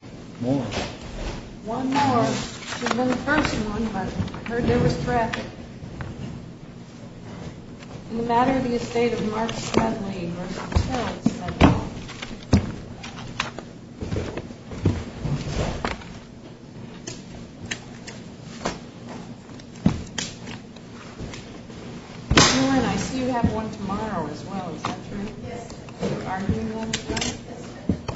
I see you have one tomorrow as well, is that true? Yes.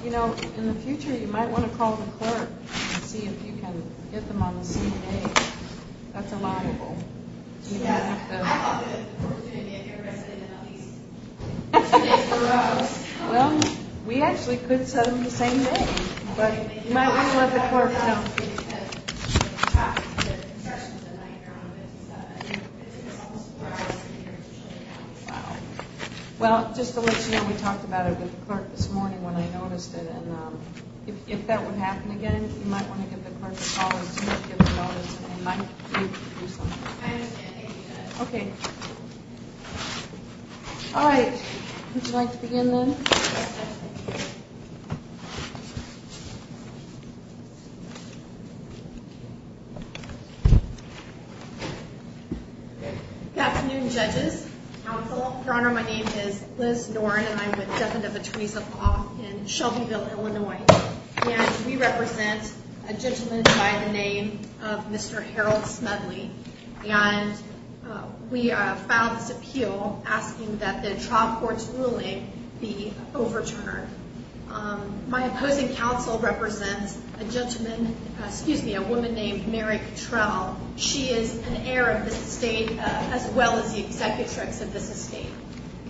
You know, in the future you might want to call the clerk and see if you can get them on the same day. That's a liable. I'd love the opportunity if everybody stayed in at least a day in a row. Well, we actually could set them the same day, but you might want to let the clerk know. Well, just to let you know, we talked about it with the clerk this morning when I noticed it, and if that would happen again, you might want to give the clerk a call and see if you can get them on the same day. I understand. Thank you, Judge. Okay. All right. Would you like to begin, then? Yes, Judge. Good afternoon, judges, counsel. Your Honor, my name is Liz Noren, and I'm with Defendant Theresa Poff in Shelbyville, Illinois. And we represent a gentleman by the name of Mr. Harold Smedley, and we filed this appeal asking that the trial court's ruling be overturned. My opposing counsel represents a gentleman, excuse me, a woman named Mary Cottrell. She is an heir of this estate as well as the executrix of this estate.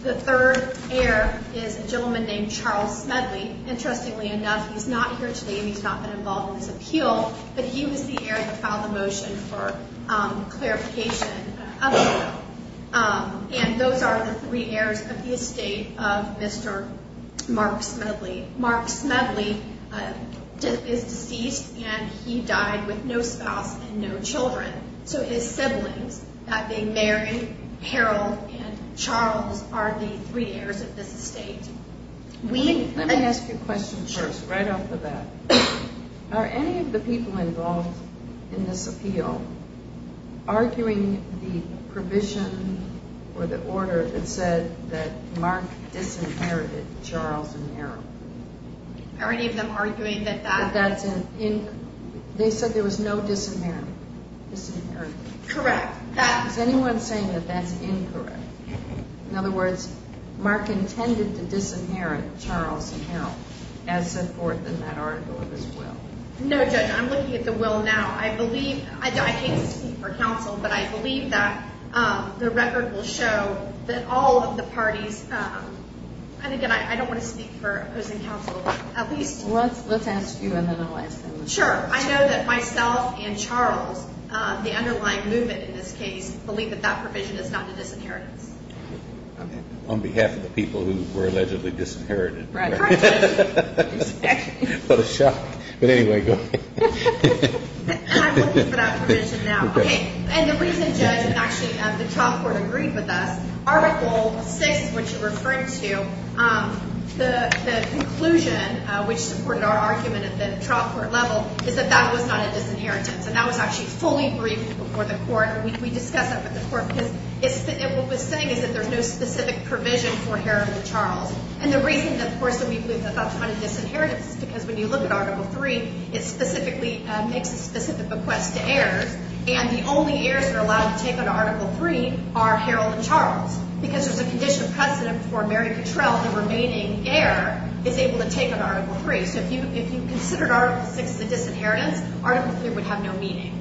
The third heir is a gentleman named Charles Smedley. Interestingly enough, he's not here today, and he's not been involved in this appeal, but he was the heir that filed the motion for clarification. And those are the three heirs of the estate of Mr. Mark Smedley. Mark Smedley is deceased, and he died with no spouse and no children. So his siblings, that being Mary, Harold, and Charles, are the three heirs of this estate. Let me ask you a question first, right off the bat. Are any of the people involved in this appeal arguing the provision or the order that said that Mark disinherited Charles and Mary? Are any of them arguing that that's in? They said there was no disinheritment. Correct. Is anyone saying that that's incorrect? In other words, Mark intended to disinherit Charles and Harold as set forth in that article of his will. No, Judge, I'm looking at the will now. I believe, I hate to speak for counsel, but I believe that the record will show that all of the parties, and again, I don't want to speak for opposing counsel at least. Let's ask you, and then I'll ask them. Sure. I know that myself and Charles, the underlying movement in this case, believe that that provision is not a disinheritance. On behalf of the people who were allegedly disinherited. Right. Correct. What a shock. But anyway, go ahead. I'm looking for that provision now. Okay. And the reason, Judge, and actually the trial court agreed with us, article 6, which you're referring to, the conclusion, which supported our argument at the trial court level, is that that was not a disinheritance. And that was actually fully briefed before the court. We discussed that with the court, because what we're saying is that there's no specific provision for Harold and Charles. And the reason, of course, that we believe that that's not a disinheritance is because when you look at article 3, it specifically makes a specific bequest to heirs. And the only heirs that are allowed to take on article 3 are Harold and Charles. Because there's a condition of precedent for Mary Cottrell, the remaining heir, is able to take on article 3. So if you considered article 6 as a disinheritance, article 3 would have no meaning.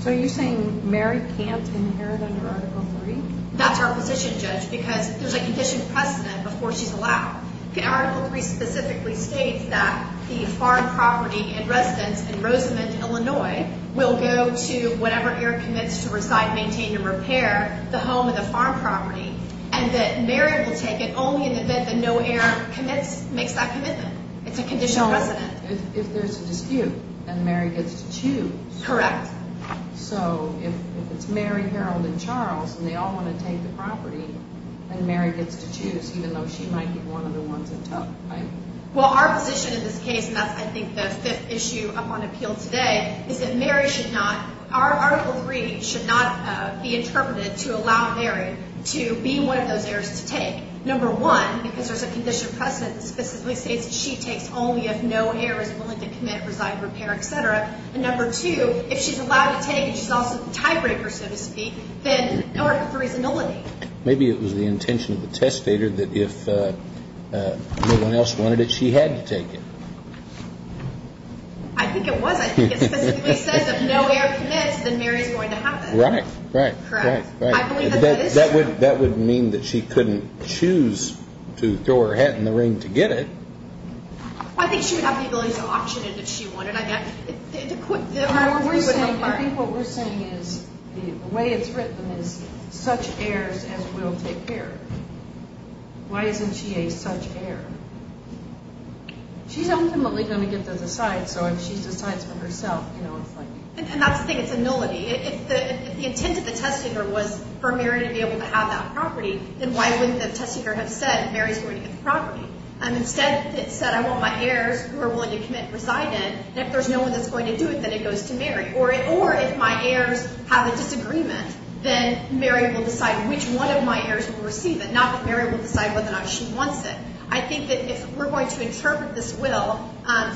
So are you saying Mary can't inherit under article 3? That's our position, Judge, because there's a condition of precedent before she's allowed. Article 3 specifically states that the farm property and residence in Rosamond, Illinois, will go to whatever heir commits to reside, maintain, and repair the home and the farm property. And that Mary will take it only in the event that no heir commits, makes that commitment. It's a condition of precedent. If there's a dispute, then Mary gets to choose. Correct. So if it's Mary, Harold, and Charles, and they all want to take the property, then Mary gets to choose, even though she might be one of the ones in trouble, right? Well, our position in this case, and that's, I think, the fifth issue up on appeal today, is that Mary should not – our article 3 should not be interpreted to allow Mary to be one of those heirs to take. Number one, because there's a condition of precedent that specifically states that she takes only if no heir is willing to commit, reside, repair, et cetera. And number two, if she's allowed to take and she's also the tiebreaker, so to speak, then Article 3 is a no-win. Maybe it was the intention of the testator that if no one else wanted it, she had to take it. I think it was. I think it specifically says that if no heir commits, then Mary is going to have it. Right. Correct. I believe that that is true. That would mean that she couldn't choose to throw her hat in the ring to get it. I think she would have the ability to auction it if she wanted. I think what we're saying is the way it's written is such heirs as will take care. Why isn't she a such heir? She's ultimately going to get to decide, so if she decides for herself, you know, it's like – And that's the thing. It's a nullity. If the intent of the testator was for Mary to be able to have that property, then why wouldn't the testator have said Mary's going to get the property? Instead, it said I want my heirs who are willing to commit to reside in, and if there's no one that's going to do it, then it goes to Mary. Or if my heirs have a disagreement, then Mary will decide which one of my heirs will receive it, not that Mary will decide whether or not she wants it. I think that if we're going to interpret this will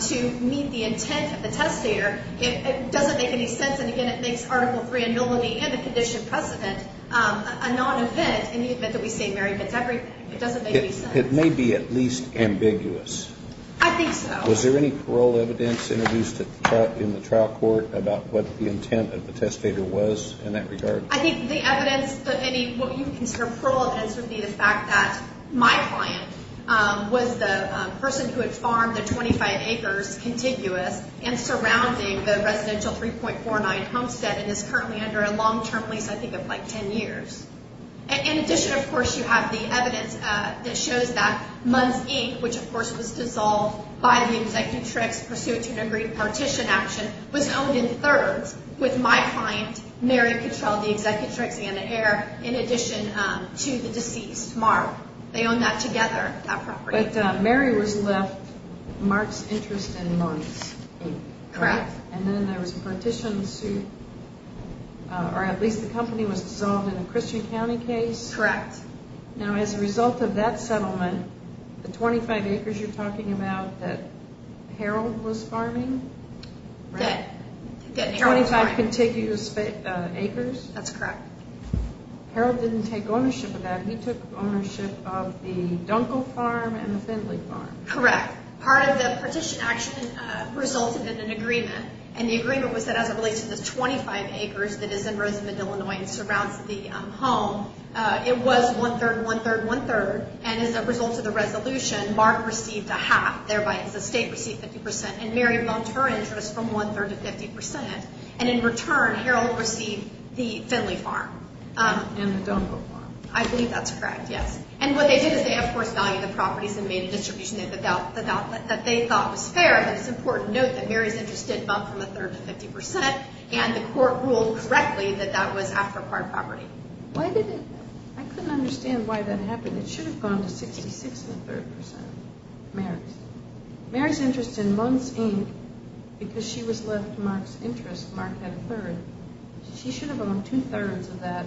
to meet the intent of the testator, it doesn't make any sense. And, again, it makes Article 3, a nullity and a condition precedent a non-event in the event that we say Mary gets everything. It doesn't make any sense. It may be at least ambiguous. I think so. Was there any parole evidence introduced in the trial court about what the intent of the testator was in that regard? I think the evidence that any – what you consider parole evidence would be the fact that my client was the person who had farmed the 25 acres, contiguous, and surrounding the residential 3.49 homestead and is currently under a long-term lease, I think, of like 10 years. In addition, of course, you have the evidence that shows that Munn's Inc., which, of course, was dissolved by the Executrix pursuant to an agreed partition action, was owned in thirds with my client, Mary Cottrell, the Executrix, and an heir in addition to the deceased, Mark. They own that together, that property. But Mary was left Mark's interest in Munn's Inc., correct? Correct. And then there was a partition suit, or at least the company was dissolved in the Christian County case? Correct. Now, as a result of that settlement, the 25 acres you're talking about that Harold was farming? That Harold was farming. 25 contiguous acres? That's correct. Harold didn't take ownership of that. He took ownership of the Dunkle Farm and the Findlay Farm. Correct. Part of the partition action resulted in an agreement, and the agreement was that as it relates to the 25 acres that is in Rosamond, Illinois and surrounds the home, it was one-third, one-third, one-third, and as a result of the resolution, Mark received a half. Thereby, the state received 50%, and Mary lost her interest from one-third to 50%, and in return, Harold received the Findlay Farm. And the Dunkle Farm. I believe that's correct, yes. And what they did is they, of course, valued the properties and made a distribution that they thought was fair, but it's important to note that Mary's interest did bump from a third to 50%, and the court ruled correctly that that was after acquired property. Why did it? I couldn't understand why that happened. It should have gone to 66 and a third percent, Mary's. Mary's interest in Munn's Inc., because she was left Mark's interest, Mark had a third. She should have owned two-thirds of that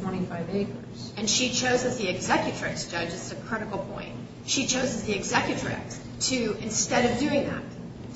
25 acres. And she chose as the executrix, Judge, it's a critical point. She chose as the executrix to, instead of doing that,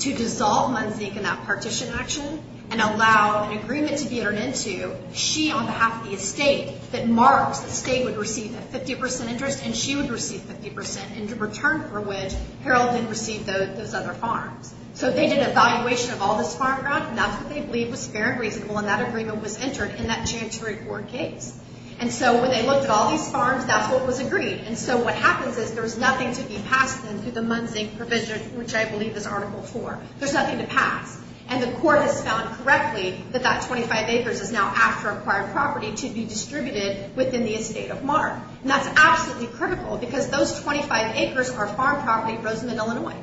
to dissolve Munn's Inc. in that partition action and allow an agreement to be entered into, she, on behalf of the estate, that Mark's estate would receive a 50% interest and she would receive 50%, in return for which Harold didn't receive those other farms. So they did an evaluation of all this farm ground, and that's what they believed was fair and reasonable, and that agreement was entered in that Janitory Court case. And so when they looked at all these farms, that's what was agreed. And so what happens is there was nothing to be passed in through the Munn's Inc. provision, which I believe is Article 4. There's nothing to pass. And the court has found correctly that that 25 acres is now after acquired property to be distributed within the estate of Mark. And that's absolutely critical because those 25 acres are farm property in Rosamond, Illinois.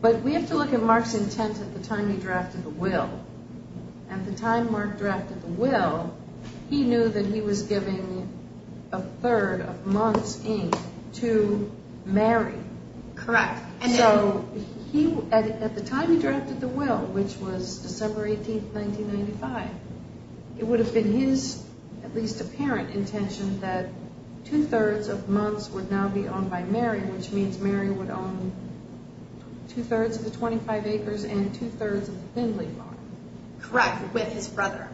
But we have to look at Mark's intent at the time he drafted the will. At the time Mark drafted the will, he knew that he was giving a third of Munn's Inc. to Mary. Correct. So at the time he drafted the will, which was December 18, 1995, it would have been his, at least apparent, intention that two-thirds of Munn's would now be owned by Mary, which means Mary would own two-thirds of the 25 acres and two-thirds of the Findlay farm. Correct, with his brother,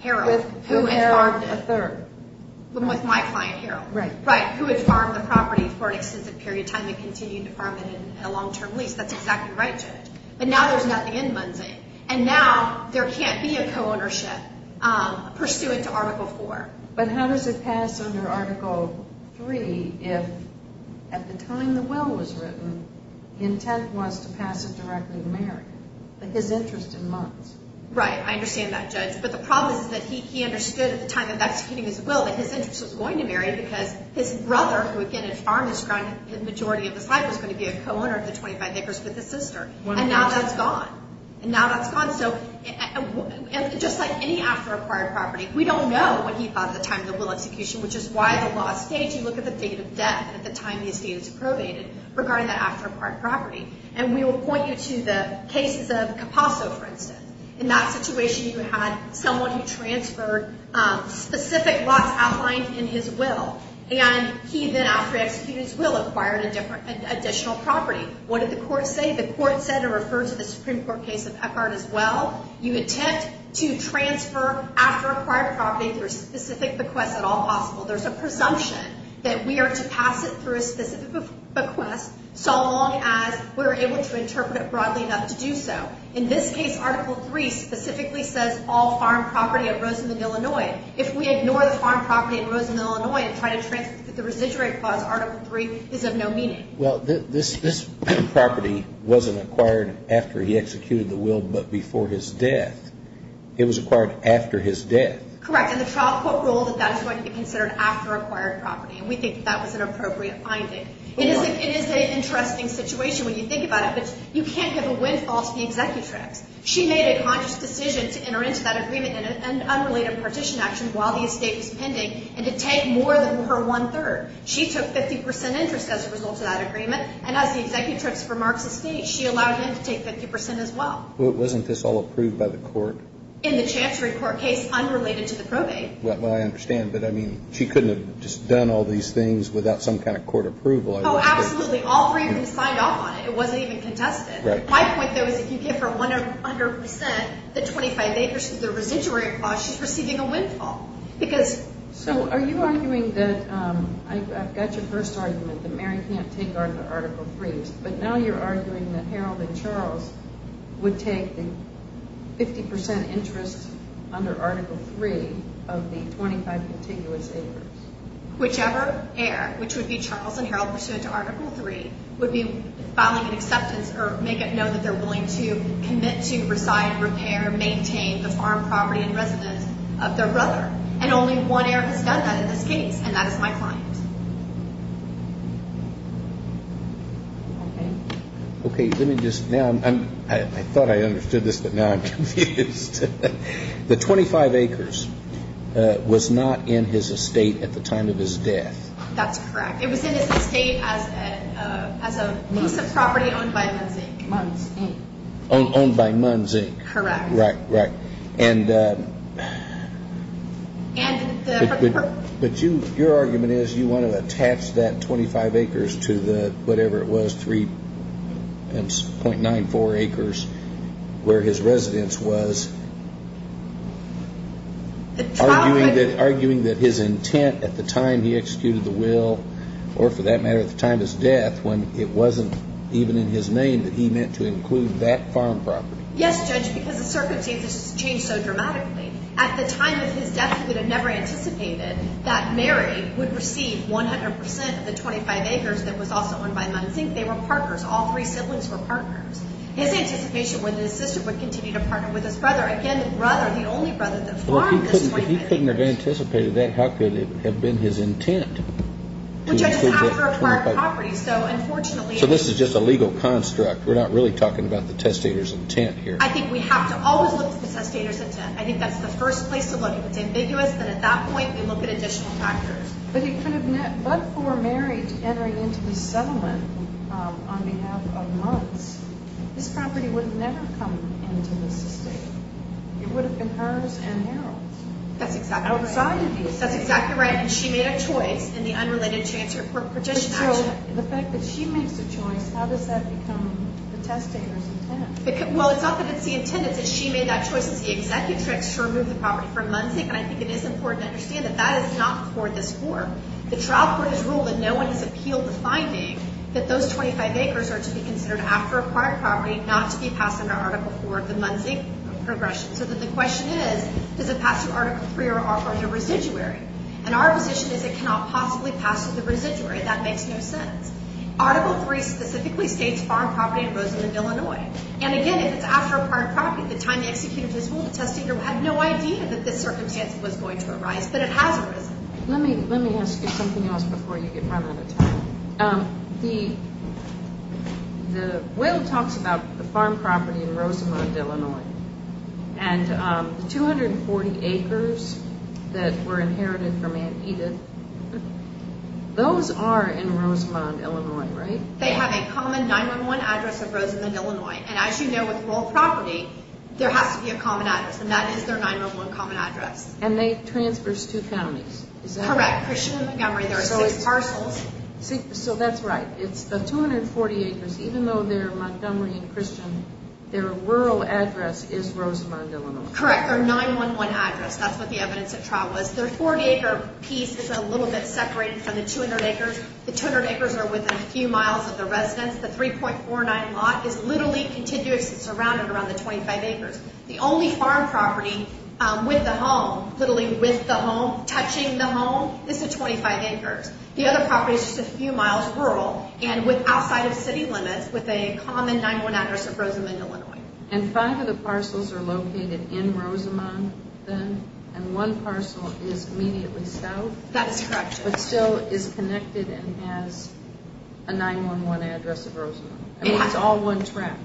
Harold, who had farmed it. With Harold, a third. With my client, Harold. Right. Right, who had farmed the property for an extensive period of time and continued to farm it in a long-term lease. That's exactly right, Judge. But now there's nothing in Munn's Inc. And now there can't be a co-ownership pursuant to Article 4. But how does it pass under Article 3 if, at the time the will was written, the intent was to pass it directly to Mary, but his interest in Munn's? Right, I understand that, Judge. But the problem is that he understood at the time of executing his will that his interest was going to Mary because his brother, who, again, had farmed this ground the majority of his life, was going to be a co-owner of the 25 acres with his sister. And now that's gone. And now that's gone. So just like any after-acquired property, we don't know what he thought at the time of the will execution, which is why the law states you look at the date of death at the time these data is probated regarding the after-acquired property. And we will point you to the cases of Capasso, for instance. In that situation, you had someone who transferred specific lots outlined in his will. And he then, after he executed his will, acquired an additional property. What did the court say? I think the court said it refers to the Supreme Court case of Eckhart as well. You attempt to transfer after-acquired property through specific bequests at all possible. There's a presumption that we are to pass it through a specific bequest so long as we're able to interpret it broadly enough to do so. In this case, Article III specifically says all farm property at Roseland, Illinois. If we ignore the farm property at Roseland, Illinois, and try to transfer it through the residuary clause, Article III is of no meaning. Well, this property wasn't acquired after he executed the will but before his death. It was acquired after his death. Correct. And the trial court ruled that that is going to be considered after-acquired property. And we think that that was an appropriate finding. It is an interesting situation when you think about it, but you can't give a windfall to the executrix. She made a conscious decision to enter into that agreement in an unrelated partition action while the estate was pending and to take more than her one-third. She took 50 percent interest as a result of that agreement, and as the executrix for Marks Estate, she allowed him to take 50 percent as well. Wasn't this all approved by the court? In the Chancery Court case, unrelated to the probate. Well, I understand, but, I mean, she couldn't have just done all these things without some kind of court approval. Oh, absolutely. All three of them signed off on it. It wasn't even contested. Right. My point, though, is if you give her 100 percent, the 25 acres through the residuary clause, she's receiving a windfall. So, are you arguing that, I've got your first argument, that Mary can't take on the Article 3s, but now you're arguing that Harold and Charles would take the 50 percent interest under Article 3 of the 25 contiguous acres. Whichever heir, which would be Charles and Harold, pursuant to Article 3, would be filing an acceptance Okay. Okay, let me just, now, I thought I understood this, but now I'm confused. The 25 acres was not in his estate at the time of his death. That's correct. It was in his estate as a piece of property owned by MUNZ Inc. MUNZ Inc. Owned by MUNZ Inc. Correct. Right, right. But your argument is you want to attach that 25 acres to the, whatever it was, 3.94 acres where his residence was, arguing that his intent at the time he executed the will, or for that matter at the time of his death, when it wasn't even in his name that he meant to include that farm property. Yes, Judge, because the circumstances changed so dramatically. At the time of his death, he would have never anticipated that Mary would receive 100 percent of the 25 acres that was also owned by MUNZ Inc. They were partners. All three siblings were partners. His anticipation was that his sister would continue to partner with his brother. Again, the brother, the only brother that farmed the 25 acres. Well, if he couldn't have anticipated that, how could it have been his intent? Well, Judge, it's after a part of the property, so unfortunately. So this is just a legal construct. We're not really talking about the testator's intent here. I think we have to always look at the testator's intent. I think that's the first place to look. If it's ambiguous, then at that point we look at additional factors. But for Mary to enter into this settlement on behalf of MUNZ, this property would have never come into this estate. It would have been hers and Harold's. That's exactly right. Outside of these. That's exactly right, and she made a choice in the unrelated chancer partition action. The fact that she makes a choice, how does that become the testator's intent? Well, it's not that it's the intent. It's that she made that choice as the executrix to remove the property from MUNZ. And I think it is important to understand that that is not before this Court. The trial court has ruled that no one has appealed the finding that those 25 acres are to be considered after acquired property not to be passed under Article IV of the MUNZ progression. So the question is, does it pass through Article III or the residuary? And our position is it cannot possibly pass through the residuary. That makes no sense. Article III specifically states farm property in Rosamond, Illinois. And, again, if it's after acquired property, the time the executor has ruled, the testator had no idea that this circumstance was going to arise, but it has arisen. Let me ask you something else before you get run out of time. And the 240 acres that were inherited from Aunt Edith, those are in Rosamond, Illinois, right? They have a common 9-1-1 address of Rosamond, Illinois. And as you know, with rural property, there has to be a common address, and that is their 9-1-1 common address. And they transfer to two counties, is that right? Correct, Christian and Montgomery. There are six parcels. So that's right. It's the 240 acres. Even though they're Montgomery and Christian, their rural address is Rosamond, Illinois. Correct. Their 9-1-1 address. That's what the evidence of trial was. Their 40-acre piece is a little bit separated from the 200 acres. The 200 acres are within a few miles of the residence. The 3.49 lot is literally continuously surrounded around the 25 acres. The only farm property with the home, literally with the home, touching the home, is the 25 acres. The other property is just a few miles rural and outside of city limits with a common 9-1-1 address of Rosamond, Illinois. And five of the parcels are located in Rosamond then, and one parcel is immediately south. That is correct. But still is connected and has a 9-1-1 address of Rosamond. It's all one track.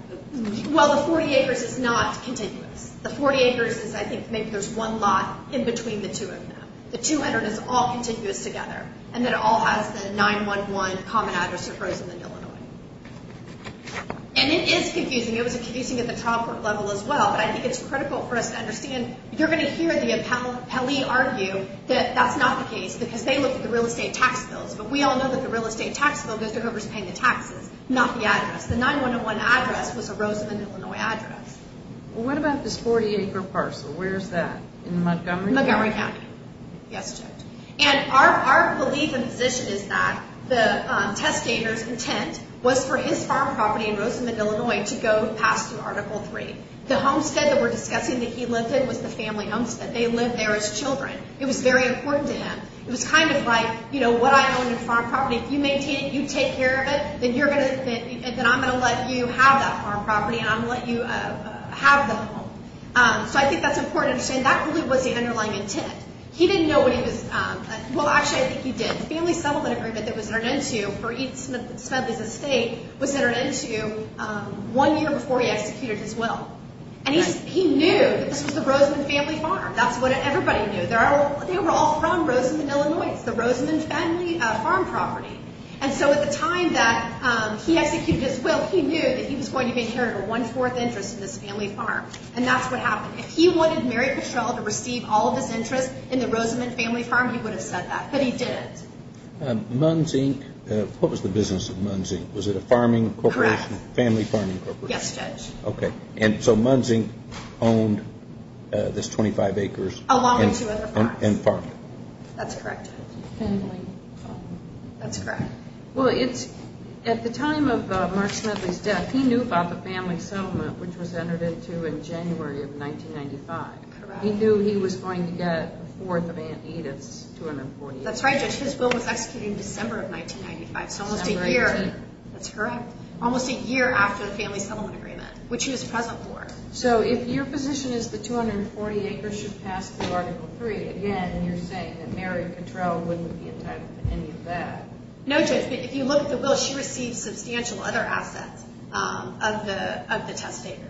Well, the 40 acres is not continuous. The 40 acres is, I think, maybe there's one lot in between the two of them. The 200 is all continuous together. And it all has the 9-1-1 common address of Rosamond, Illinois. And it is confusing. It was confusing at the trial court level as well. But I think it's critical for us to understand. You're going to hear the appellee argue that that's not the case because they look at the real estate tax bills. But we all know that the real estate tax bill goes to whoever's paying the taxes, not the address. The 9-1-1 address was a Rosamond, Illinois address. Well, what about this 40-acre parcel? Where is that? In Montgomery? In Montgomery County. Yes, Judge. And our belief and position is that the testator's intent was for his farm property in Rosamond, Illinois, to go past through Article 3. The homestead that we're discussing that he lived in was the family homestead. They lived there as children. It was very important to him. It was kind of like, you know, what I own is farm property. If you maintain it, you take care of it, then I'm going to let you have that farm property, and I'm going to let you have the home. So I think that's important to understand. And that really was the underlying intent. He didn't know what he was going to do. Well, actually, I think he did. The family settlement agreement that was entered into for Smithley's estate was entered into one year before he executed his will. And he knew that this was the Rosamond family farm. That's what everybody knew. They were all from Rosamond, Illinois. It's the Rosamond family farm property. And so at the time that he executed his will, he knew that he was going to be inheriting one-fourth interest in this family farm. And that's what happened. If he wanted Mary Petrell to receive all of his interest in the Rosamond family farm, he would have said that. But he didn't. MUNZ, Inc. What was the business of MUNZ, Inc.? Was it a farming corporation? Correct. Family farming corporation? Yes, Judge. Okay. And so MUNZ, Inc. owned this 25 acres. Along with two other farms. And farmed it. That's correct, Judge. Family farm. That's correct. Well, at the time of Mark Smedley's death, he knew about the family settlement, which was entered into in January of 1995. Correct. He knew he was going to get a fourth of Aunt Edith's 240 acres. That's right, Judge. His will was executed in December of 1995. So almost a year. December, 1995. That's correct. Almost a year after the family settlement agreement, which he was present for. So if your position is the 240 acres should pass through Article III, again, you're saying that Mary Petrell wouldn't be entitled to any of that. No, Judge. But if you look at the will, she received substantial other assets of the testator.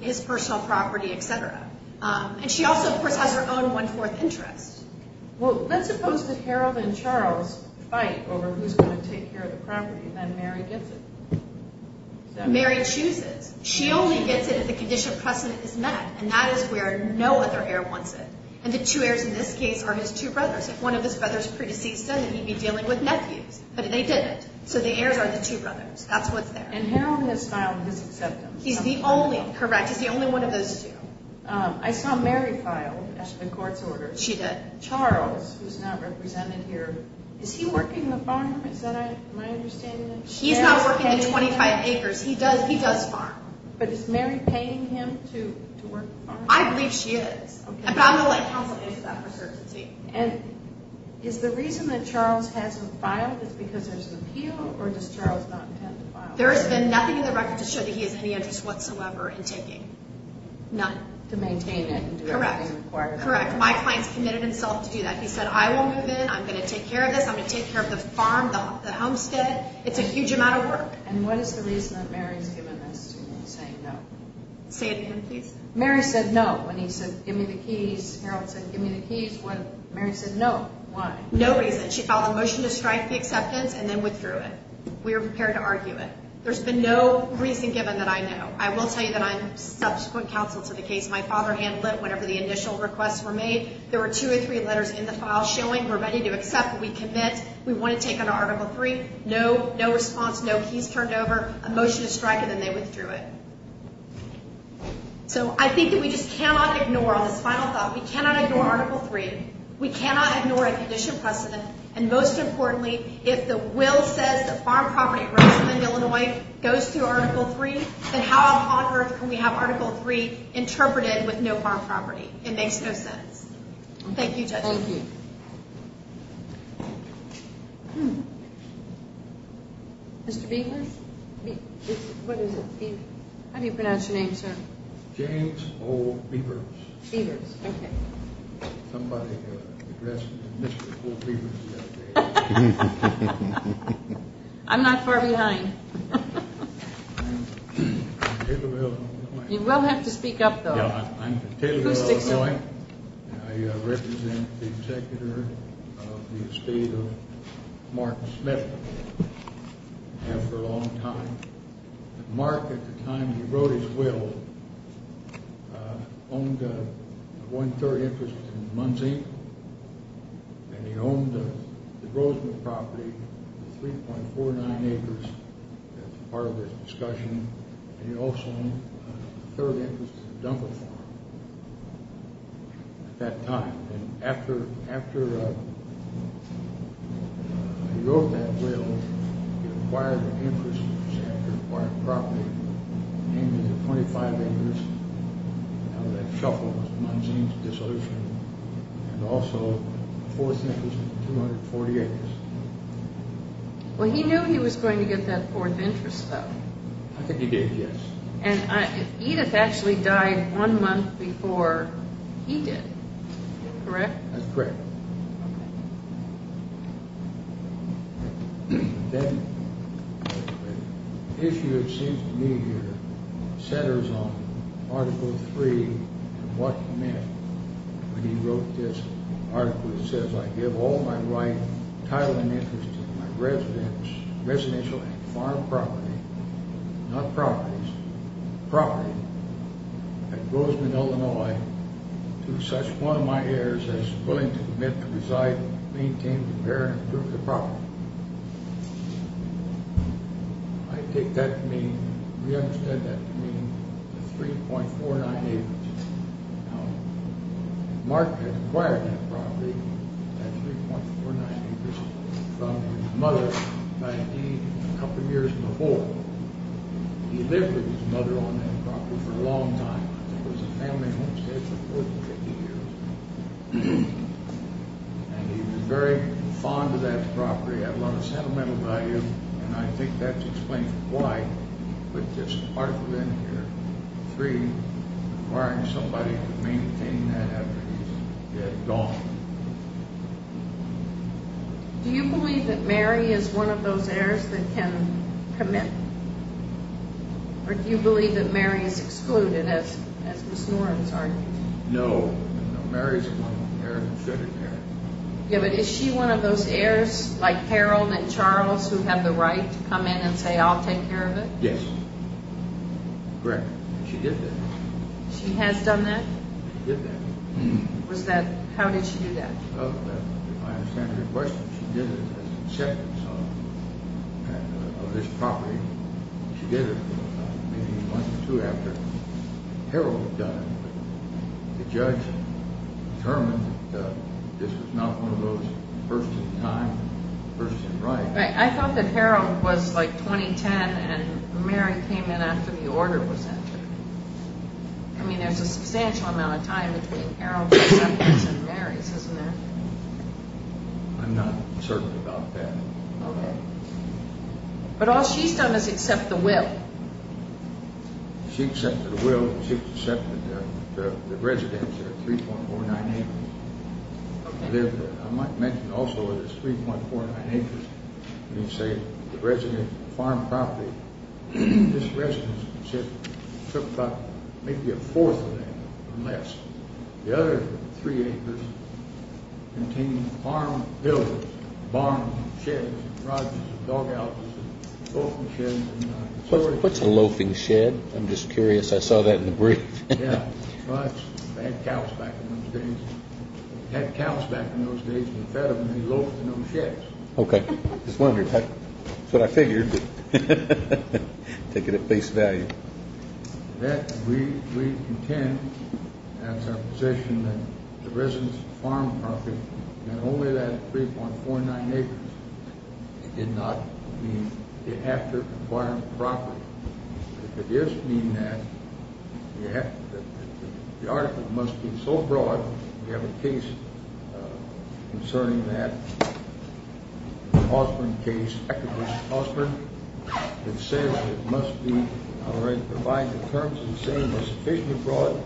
His personal property, etc. And she also, of course, has her own one-fourth interest. Well, let's suppose that Harold and Charles fight over who's going to take care of the property. Then Mary gets it. Mary chooses. She only gets it if the condition of precedent is met. And that is where no other heir wants it. And the two heirs in this case are his two brothers. If one of his brothers pre-deceased him, he'd be dealing with nephews. But they didn't. So the heirs are the two brothers. That's what's there. And Harold has filed his acceptance. He's the only. Correct. He's the only one of those two. I saw Mary file a court's order. She did. Charles, who's not represented here, is he working the farm? Is that my understanding? He's not working the 25 acres. He does farm. But is Mary paying him to work the farm? I believe she is. But I'm going to let counsel issue that for certainty. And is the reason that Charles hasn't filed is because there's an appeal, or does Charles not intend to file? There has been nothing in the record to show that he has any interest whatsoever in taking. None. To maintain it and do everything required. Correct. My client's committed himself to do that. He said, I will move in. I'm going to take care of this. I'm going to take care of the farm, the homestead. It's a huge amount of work. And what is the reason that Mary's given this to him, saying no? Say it again, please. Mary said no when he said give me the keys. Harold said give me the keys when Mary said no. Why? No reason. She filed a motion to strike the acceptance and then withdrew it. We are prepared to argue it. There's been no reason given that I know. I will tell you that I'm subsequent counsel to the case. My father handled it whenever the initial requests were made. There were two or three letters in the file showing we're ready to accept, we commit, we want to take on Article III. No response, no keys turned over, a motion to strike, and then they withdrew it. So I think that we just cannot ignore, on this final thought, we cannot ignore Article III. We cannot ignore a condition precedent. And most importantly, if the will says that farm property rights in Illinois goes through Article III, then how on earth can we have Article III interpreted with no farm property? It makes no sense. Thank you, Judge. Thank you. Mr. Binkler? What is it? How do you pronounce your name, sir? James O. Beavers. Beavers, okay. Somebody addressed me as Mr. O. Beavers the other day. I'm not far behind. You will have to speak up, though. I'm from Taylor, Illinois, and I represent the executor of the estate of Martin Smith. I have for a long time. Mark, at the time he wrote his will, owned one-third interest in Munzee, and he owned the Grosvenor property, 3.49 acres as part of his discussion, and he also owned a third interest in the Dunkle Farm at that time. After he wrote that will, he acquired an interest in Sanford, acquired property, named it 25 acres out of that shuffle of Munzee and this other thing, and also a fourth interest of 240 acres. Well, he knew he was going to get that fourth interest, though. I think he did, yes. And Edith actually died one month before he did, correct? That's correct. The issue, it seems to me here, centers on Article III and what Smith, when he wrote this article that says, I give all my right, title, and interest in my residential and farm property, not properties, property at Grosvenor, Illinois, to such one of my heirs as is willing to commit to reside and maintain, repair, and improve the property. I take that to mean, we understand that to mean 3.49 acres. Mark had acquired that property at 3.49 acres from his mother a couple years before. He lived with his mother on that property for a long time. It was a family homestead for 40 to 50 years, and he was very fond of that property, had a lot of sentimental value, and I think that explains why he put this article in here, 3, requiring somebody to maintain that after he's dead, gone. Do you believe that Mary is one of those heirs that can commit? Or do you believe that Mary is excluded, as Ms. Norris argued? No, Mary's one of the heirs who should have been. Yeah, but is she one of those heirs, like Harold and Charles, who have the right to come in and say, I'll take care of it? Yes, correct. She did that. She has done that? She did that. How did she do that? If I understand your question, she did it as an acceptance of this property. She did it maybe once or two after Harold had done it, but the judge determined that this was not one of those first in time, first in right. I thought that Harold was like 2010 and Mary came in after the order was entered. I mean, there's a substantial amount of time between Harold's acceptance and Mary's, isn't there? I'm not certain about that. Okay. But all she's done is accept the will. She accepted the will, she accepted the residence, 3.49 acres. I might mention also that it's 3.49 acres. You say the residence, the farm property, this residence took up maybe a fourth of that or less. The other three acres contained farm buildings, barns, sheds, lodges, dog houses, loafing sheds. What's a loafing shed? I'm just curious. I saw that in the brief. They had cows back in those days. They had cows back in those days and fed them and they loafed in those sheds. Okay. Just wondering. That's what I figured. Take it at face value. That brief intent has a position that the residence, the farm property, and only that 3.49 acres did not mean they have to acquire the property. It could just mean that the article must be so broad. We have a case concerning that, the Osborne case, that says it must provide the terms and saying is sufficiently broad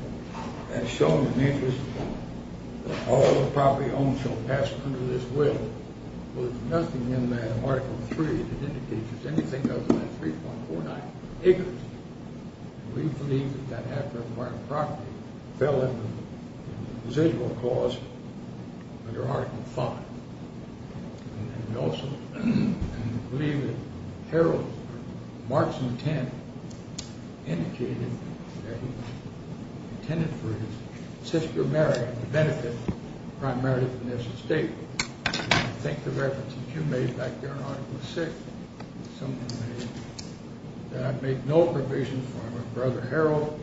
as shown in the interest that all the property owned shall pass under this will. Well, there's nothing in Article 3 that indicates there's anything other than that 3.49 acres. We believe that that had to have acquired the property. It fell under the residual clause under Article 5. And we also believe that Harold Markson Kent indicated that he intended for his sister Mary to benefit primarily from this estate. I think the reference that you made back there in Article 6, something that I made, that I made no provision for my brother Harold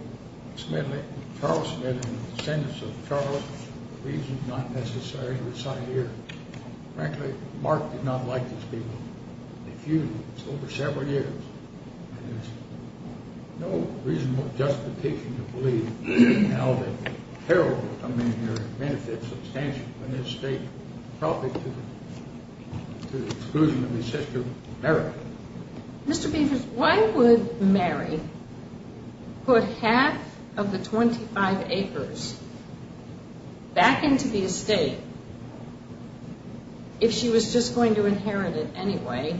Smithley, Charles Smithley, descendants of Charles, the reason is not necessary to reside here. Frankly, Mark did not like this people. If you, over several years, there's no reasonable justification to believe now that Harold would come in here and benefit substantially from this estate, probably to the exclusion of his sister Mary. Mr. Beavers, why would Mary put half of the 25 acres back into the estate if she was just going to inherit it anyway?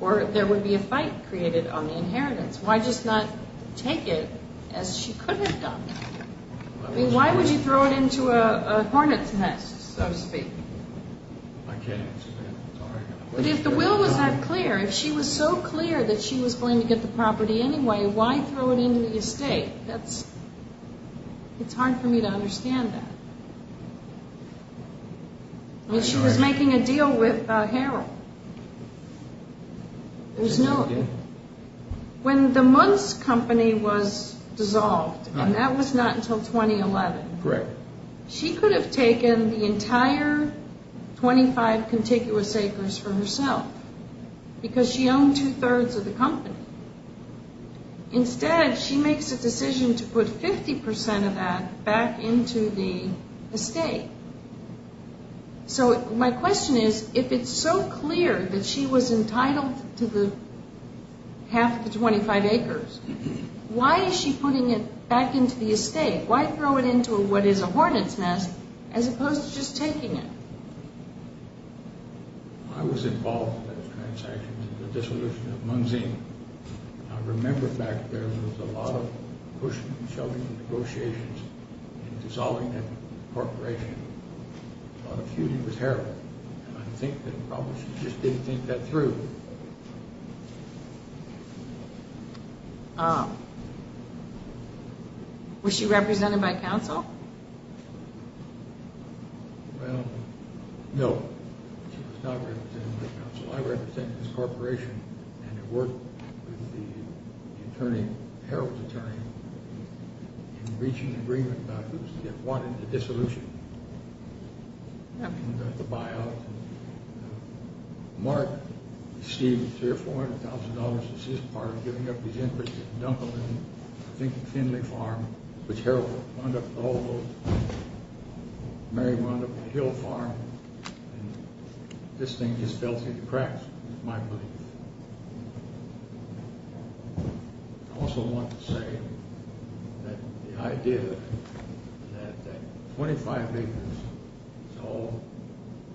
Or there would be a fight created on the inheritance. Why just not take it as she could have done? I mean, why would you throw it into a hornet's nest, so to speak? I can't answer that. But if the will was that clear, if she was so clear that she was going to get the property anyway, why throw it into the estate? It's hard for me to understand that. I mean, she was making a deal with Harold. When the Munce company was dissolved, and that was not until 2011, she could have taken the entire 25 contiguous acres for herself because she owned two-thirds of the company. Instead, she makes a decision to put 50% of that back into the estate. So my question is, if it's so clear that she was entitled to half of the 25 acres, why is she putting it back into the estate? Why throw it into what is a hornet's nest as opposed to just taking it? I was involved in those transactions and the dissolution of Munzeen. I remember back then there was a lot of pushing and shoving the negotiations and dissolving the corporation. A lot of feuding with Harold. I think that probably she just didn't think that through. Was she represented by counsel? Well, no. She was not represented by counsel. I represent this corporation and have worked with the attorney, Harold's attorney, in reaching an agreement about who is to get wanted in the dissolution. The buyout. Mark, Steve, $300,000 or $400,000 is his part in giving up his input. You can dump them in, I think, Finley Farm, which Harold wound up with a whole load. Mary wound up with Hill Farm. This thing just fell through the cracks, is my belief. I also want to say that the idea that 25 acres is all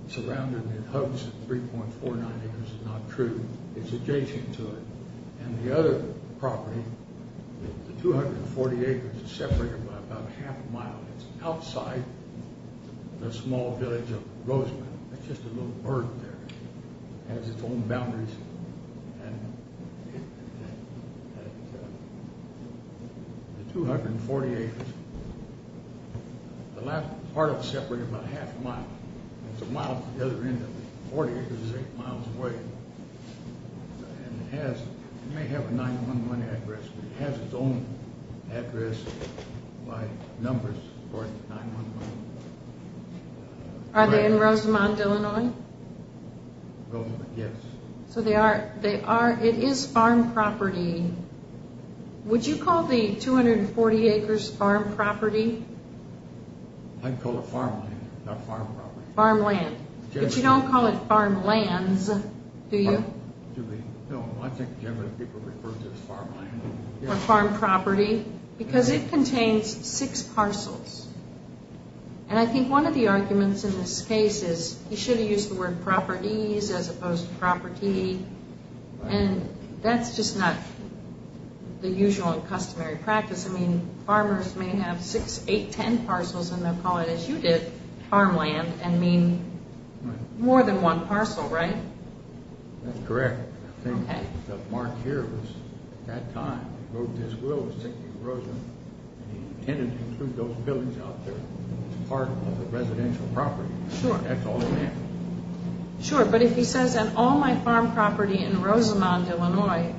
surrounded in hoaxes, 3.49 acres is not true. It's adjacent to it. And the other property, the 240 acres is separated by about half a mile. It's outside the small village of Roseland. It's just a little bird there. It has its own boundaries. The 240 acres, the last part of it is separated by about half a mile. It's a mile to the other end of it. The 40 acres is eight miles away. It may have a 911 address, but it has its own address by numbers. Are they in Roseland, Illinois? Yes. So they are. It is farm property. Would you call the 240 acres farm property? I'd call it farm land, not farm property. Farm land. But you don't call it farm lands, do you? No, I think generally people refer to it as farm land. Or farm property. Because it contains six parcels. And I think one of the arguments in this case is you should have used the word properties as opposed to property. And that's just not the usual and customary practice. I mean, farmers may have six, eight, ten parcels, and they'll call it, as you did, farm land and mean more than one parcel, right? That's correct. Okay. Mark here was, at that time, he wrote his will, his ticket to Roseland, and he intended to include those buildings out there as part of the residential property. Sure. That's all he had. Sure, but if he says, on all my farm property in Roseland, Illinois,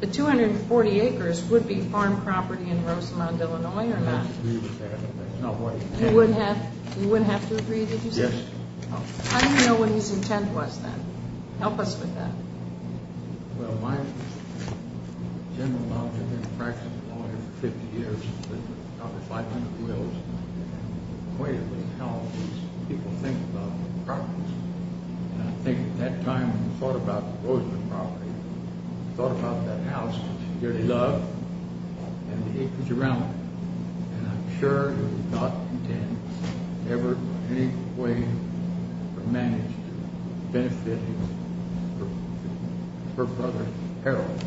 the 240 acres would be farm property in Roseland, Illinois, or not? I would agree with that, but that's not what he said. You wouldn't have to agree, did you say? Yes. I don't know what his intent was then. Help us with that. Well, my general knowledge, I've been a practice lawyer for 50 years. I've got about 500 wills. And the way it was held was people think about properties. And I think at that time, when we thought about the Roseland property, we thought about that house that you love and the acres around it. And I'm sure he would not intend ever in any way to manage to benefit his brother Harold.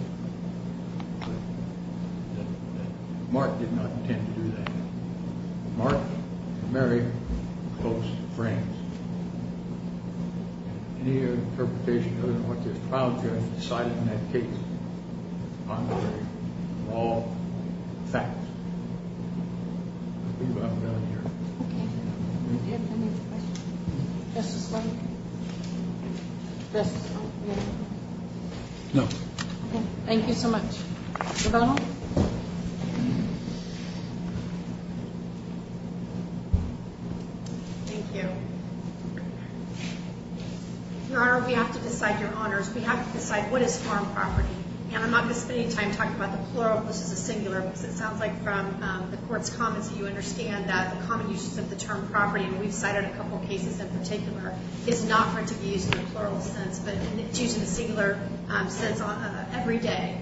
Mark did not intend to do that. Mark and Mary were close friends. Any other interpretation other than what this trial judge decided in that case, contrary to all facts? I believe I'm done here. Okay. Do you have any questions? Justice Blank? Justice Blank? No. Okay. Thank you so much. Rebecca? Thank you all. Thank you. Your Honor, we have to decide, Your Honors, we have to decide what is farm property. And I'm not going to spend any time talking about the plural versus the singular because it sounds like from the Court's comments that you understand that the common uses of the term property, and we've cited a couple of cases in particular, is not for it to be used in a plural sense, but it's used in a singular sense every day.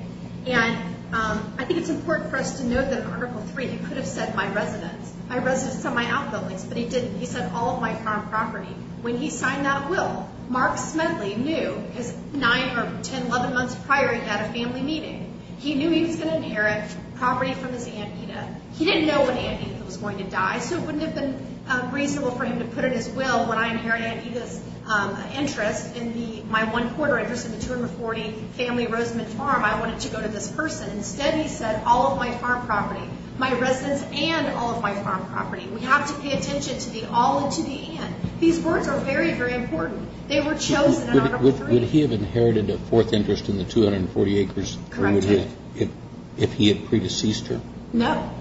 And I think it's important for us to note that Article III, he could have said my residence. My residence and my outbuildings, but he didn't. He said all of my farm property. When he signed that will, Mark Smedley knew because 9 or 10, 11 months prior, he had a family meeting. He knew he was going to inherit property from his Aunt Edith. He didn't know when Aunt Edith was going to die, so it wouldn't have been reasonable for him to put in his will when I inherited Aunt Edith's interest. In my one quarter interest in the 240 family Rosamond Farm, I wanted to go to this person. Instead, he said all of my farm property, my residence and all of my farm property. We have to pay attention to the all and to the and. These words are very, very important. They were chosen in Article III. Would he have inherited a fourth interest in the 240 acres if he had predeceased her? No,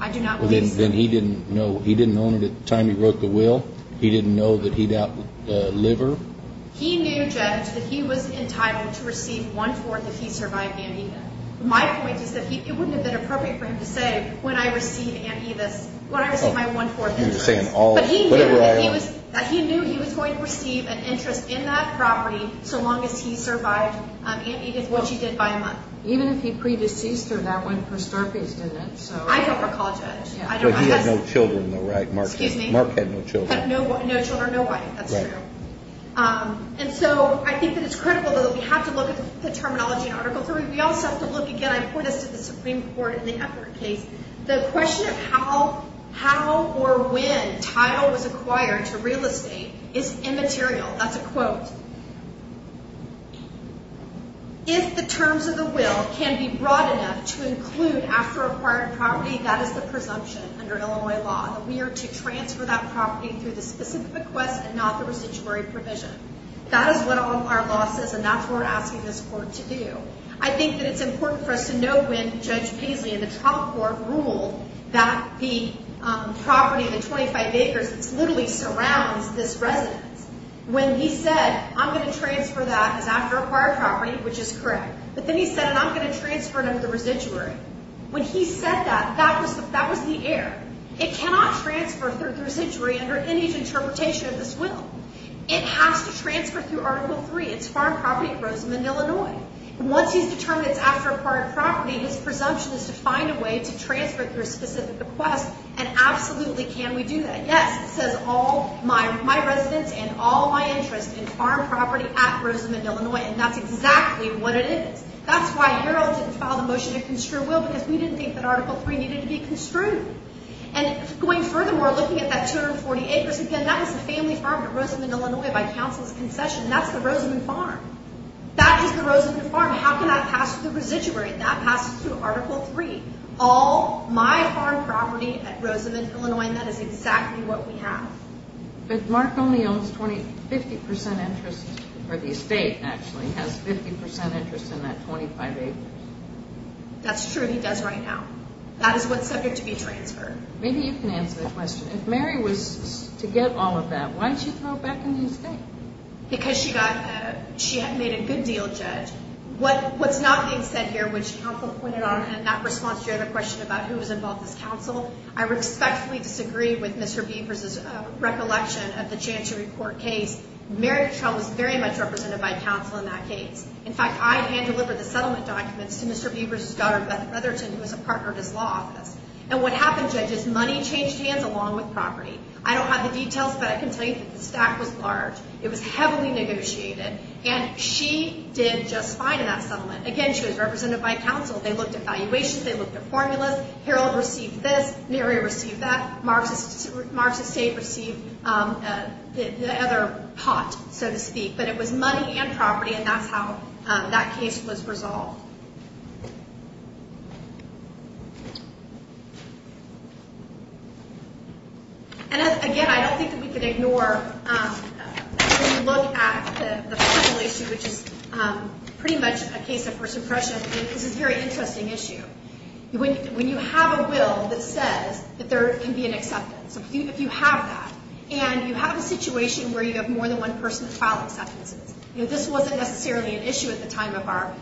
I do not believe so. Then he didn't know. He didn't own it at the time he wrote the will? He didn't know that he'd outlive her? He knew, Judge, that he was entitled to receive one-fourth if he survived Aunt Edith. My point is that it wouldn't have been appropriate for him to say, when I receive Aunt Edith's, when I receive my one-fourth interest. But he knew that he was going to receive an interest in that property so long as he survived Aunt Edith, which he did by a month. Even if he predeceased her, that went for Starkey's, didn't it? I don't recall, Judge. But he had no children though, right? Excuse me? Mark had no children. No children, no wife. That's true. And so I think that it's critical that we have to look at the terminology in Article III. We also have to look, again, I point us to the Supreme Court in the Eppert case. The question of how or when title was acquired to real estate is immaterial. That's a quote. If the terms of the will can be broad enough to include after acquired property, that is the presumption under Illinois law. We are to transfer that property through the specific request and not the residuary provision. That is what all of our law says, and that's what we're asking this court to do. I think that it's important for us to know when Judge Paisley in the trial court ruled that the property, the 25 acres, literally surrounds this residence. When he said, I'm going to transfer that as after acquired property, which is correct. But then he said, and I'm going to transfer it under the residuary. When he said that, that was the error. It cannot transfer through the residuary under any interpretation of this will. It has to transfer through Article III. It's farm property at Rosamond, Illinois. Once he's determined it's after acquired property, his presumption is to find a way to transfer it through a specific request, and absolutely can we do that. Yes, it says all my residence and all my interest in farm property at Rosamond, Illinois, and that's exactly what it is. That's why you all didn't file the motion to construe will, because we didn't think that Article III needed to be construed. And going further, we're looking at that 240 acres. Again, that was a family farm at Rosamond, Illinois, by counsel's concession. That's the Rosamond farm. That is the Rosamond farm. How can that pass through the residuary? That passes through Article III. All my farm property at Rosamond, Illinois, and that is exactly what we have. But Mark only owns 50% interest, or the estate, actually, has 50% interest in that 25 acres. That's true. He does right now. That is what's subject to be transferred. Maybe you can answer the question. If Mary was to get all of that, why did she throw it back in the estate? Because she had made a good deal, Judge. What's not being said here, which counsel pointed on, and that response to your other question about who was involved as counsel, I respectfully disagree with Mr. Beavers' recollection of the Chancery Court case. Mary Trout was very much represented by counsel in that case. In fact, I hand-delivered the settlement documents to Mr. Beavers' daughter, Beth Rutherton, who was a partner at his law office. And what happened, Judge, is money changed hands along with property. I don't have the details, but I can tell you that the stack was large. It was heavily negotiated. And she did just fine in that settlement. Again, she was represented by counsel. They looked at valuations. They looked at formulas. Harold received this. Mary received that. Mark's estate received the other pot, so to speak. But it was money and property, and that's how that case was resolved. And, again, I don't think that we can ignore when you look at the federal issue, which is pretty much a case of first impression. This is a very interesting issue. When you have a will that says that there can be an acceptance, if you have that, and you have a situation where you have more than one person to file acceptances, this wasn't necessarily an issue at the time of our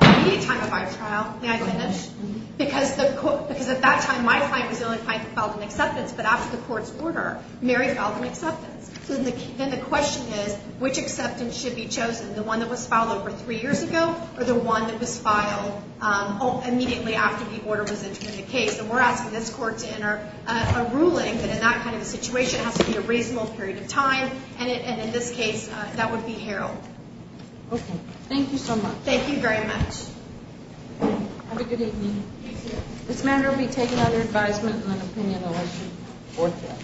immediate time of our trial. May I finish? Because at that time, my client was the only client that filed an acceptance. But after the court's order, Mary filed an acceptance. So then the question is, which acceptance should be chosen, the one that was filed over three years ago or the one that was filed immediately after the order was entered in the case? And we're asking this court to enter a ruling that in that kind of a situation has to be a reasonable period of time. And in this case, that would be Harold. Okay. Thank you so much. Thank you very much. Have a good evening. Thank you. This matter will be taken under advisement in an opinion election or trial.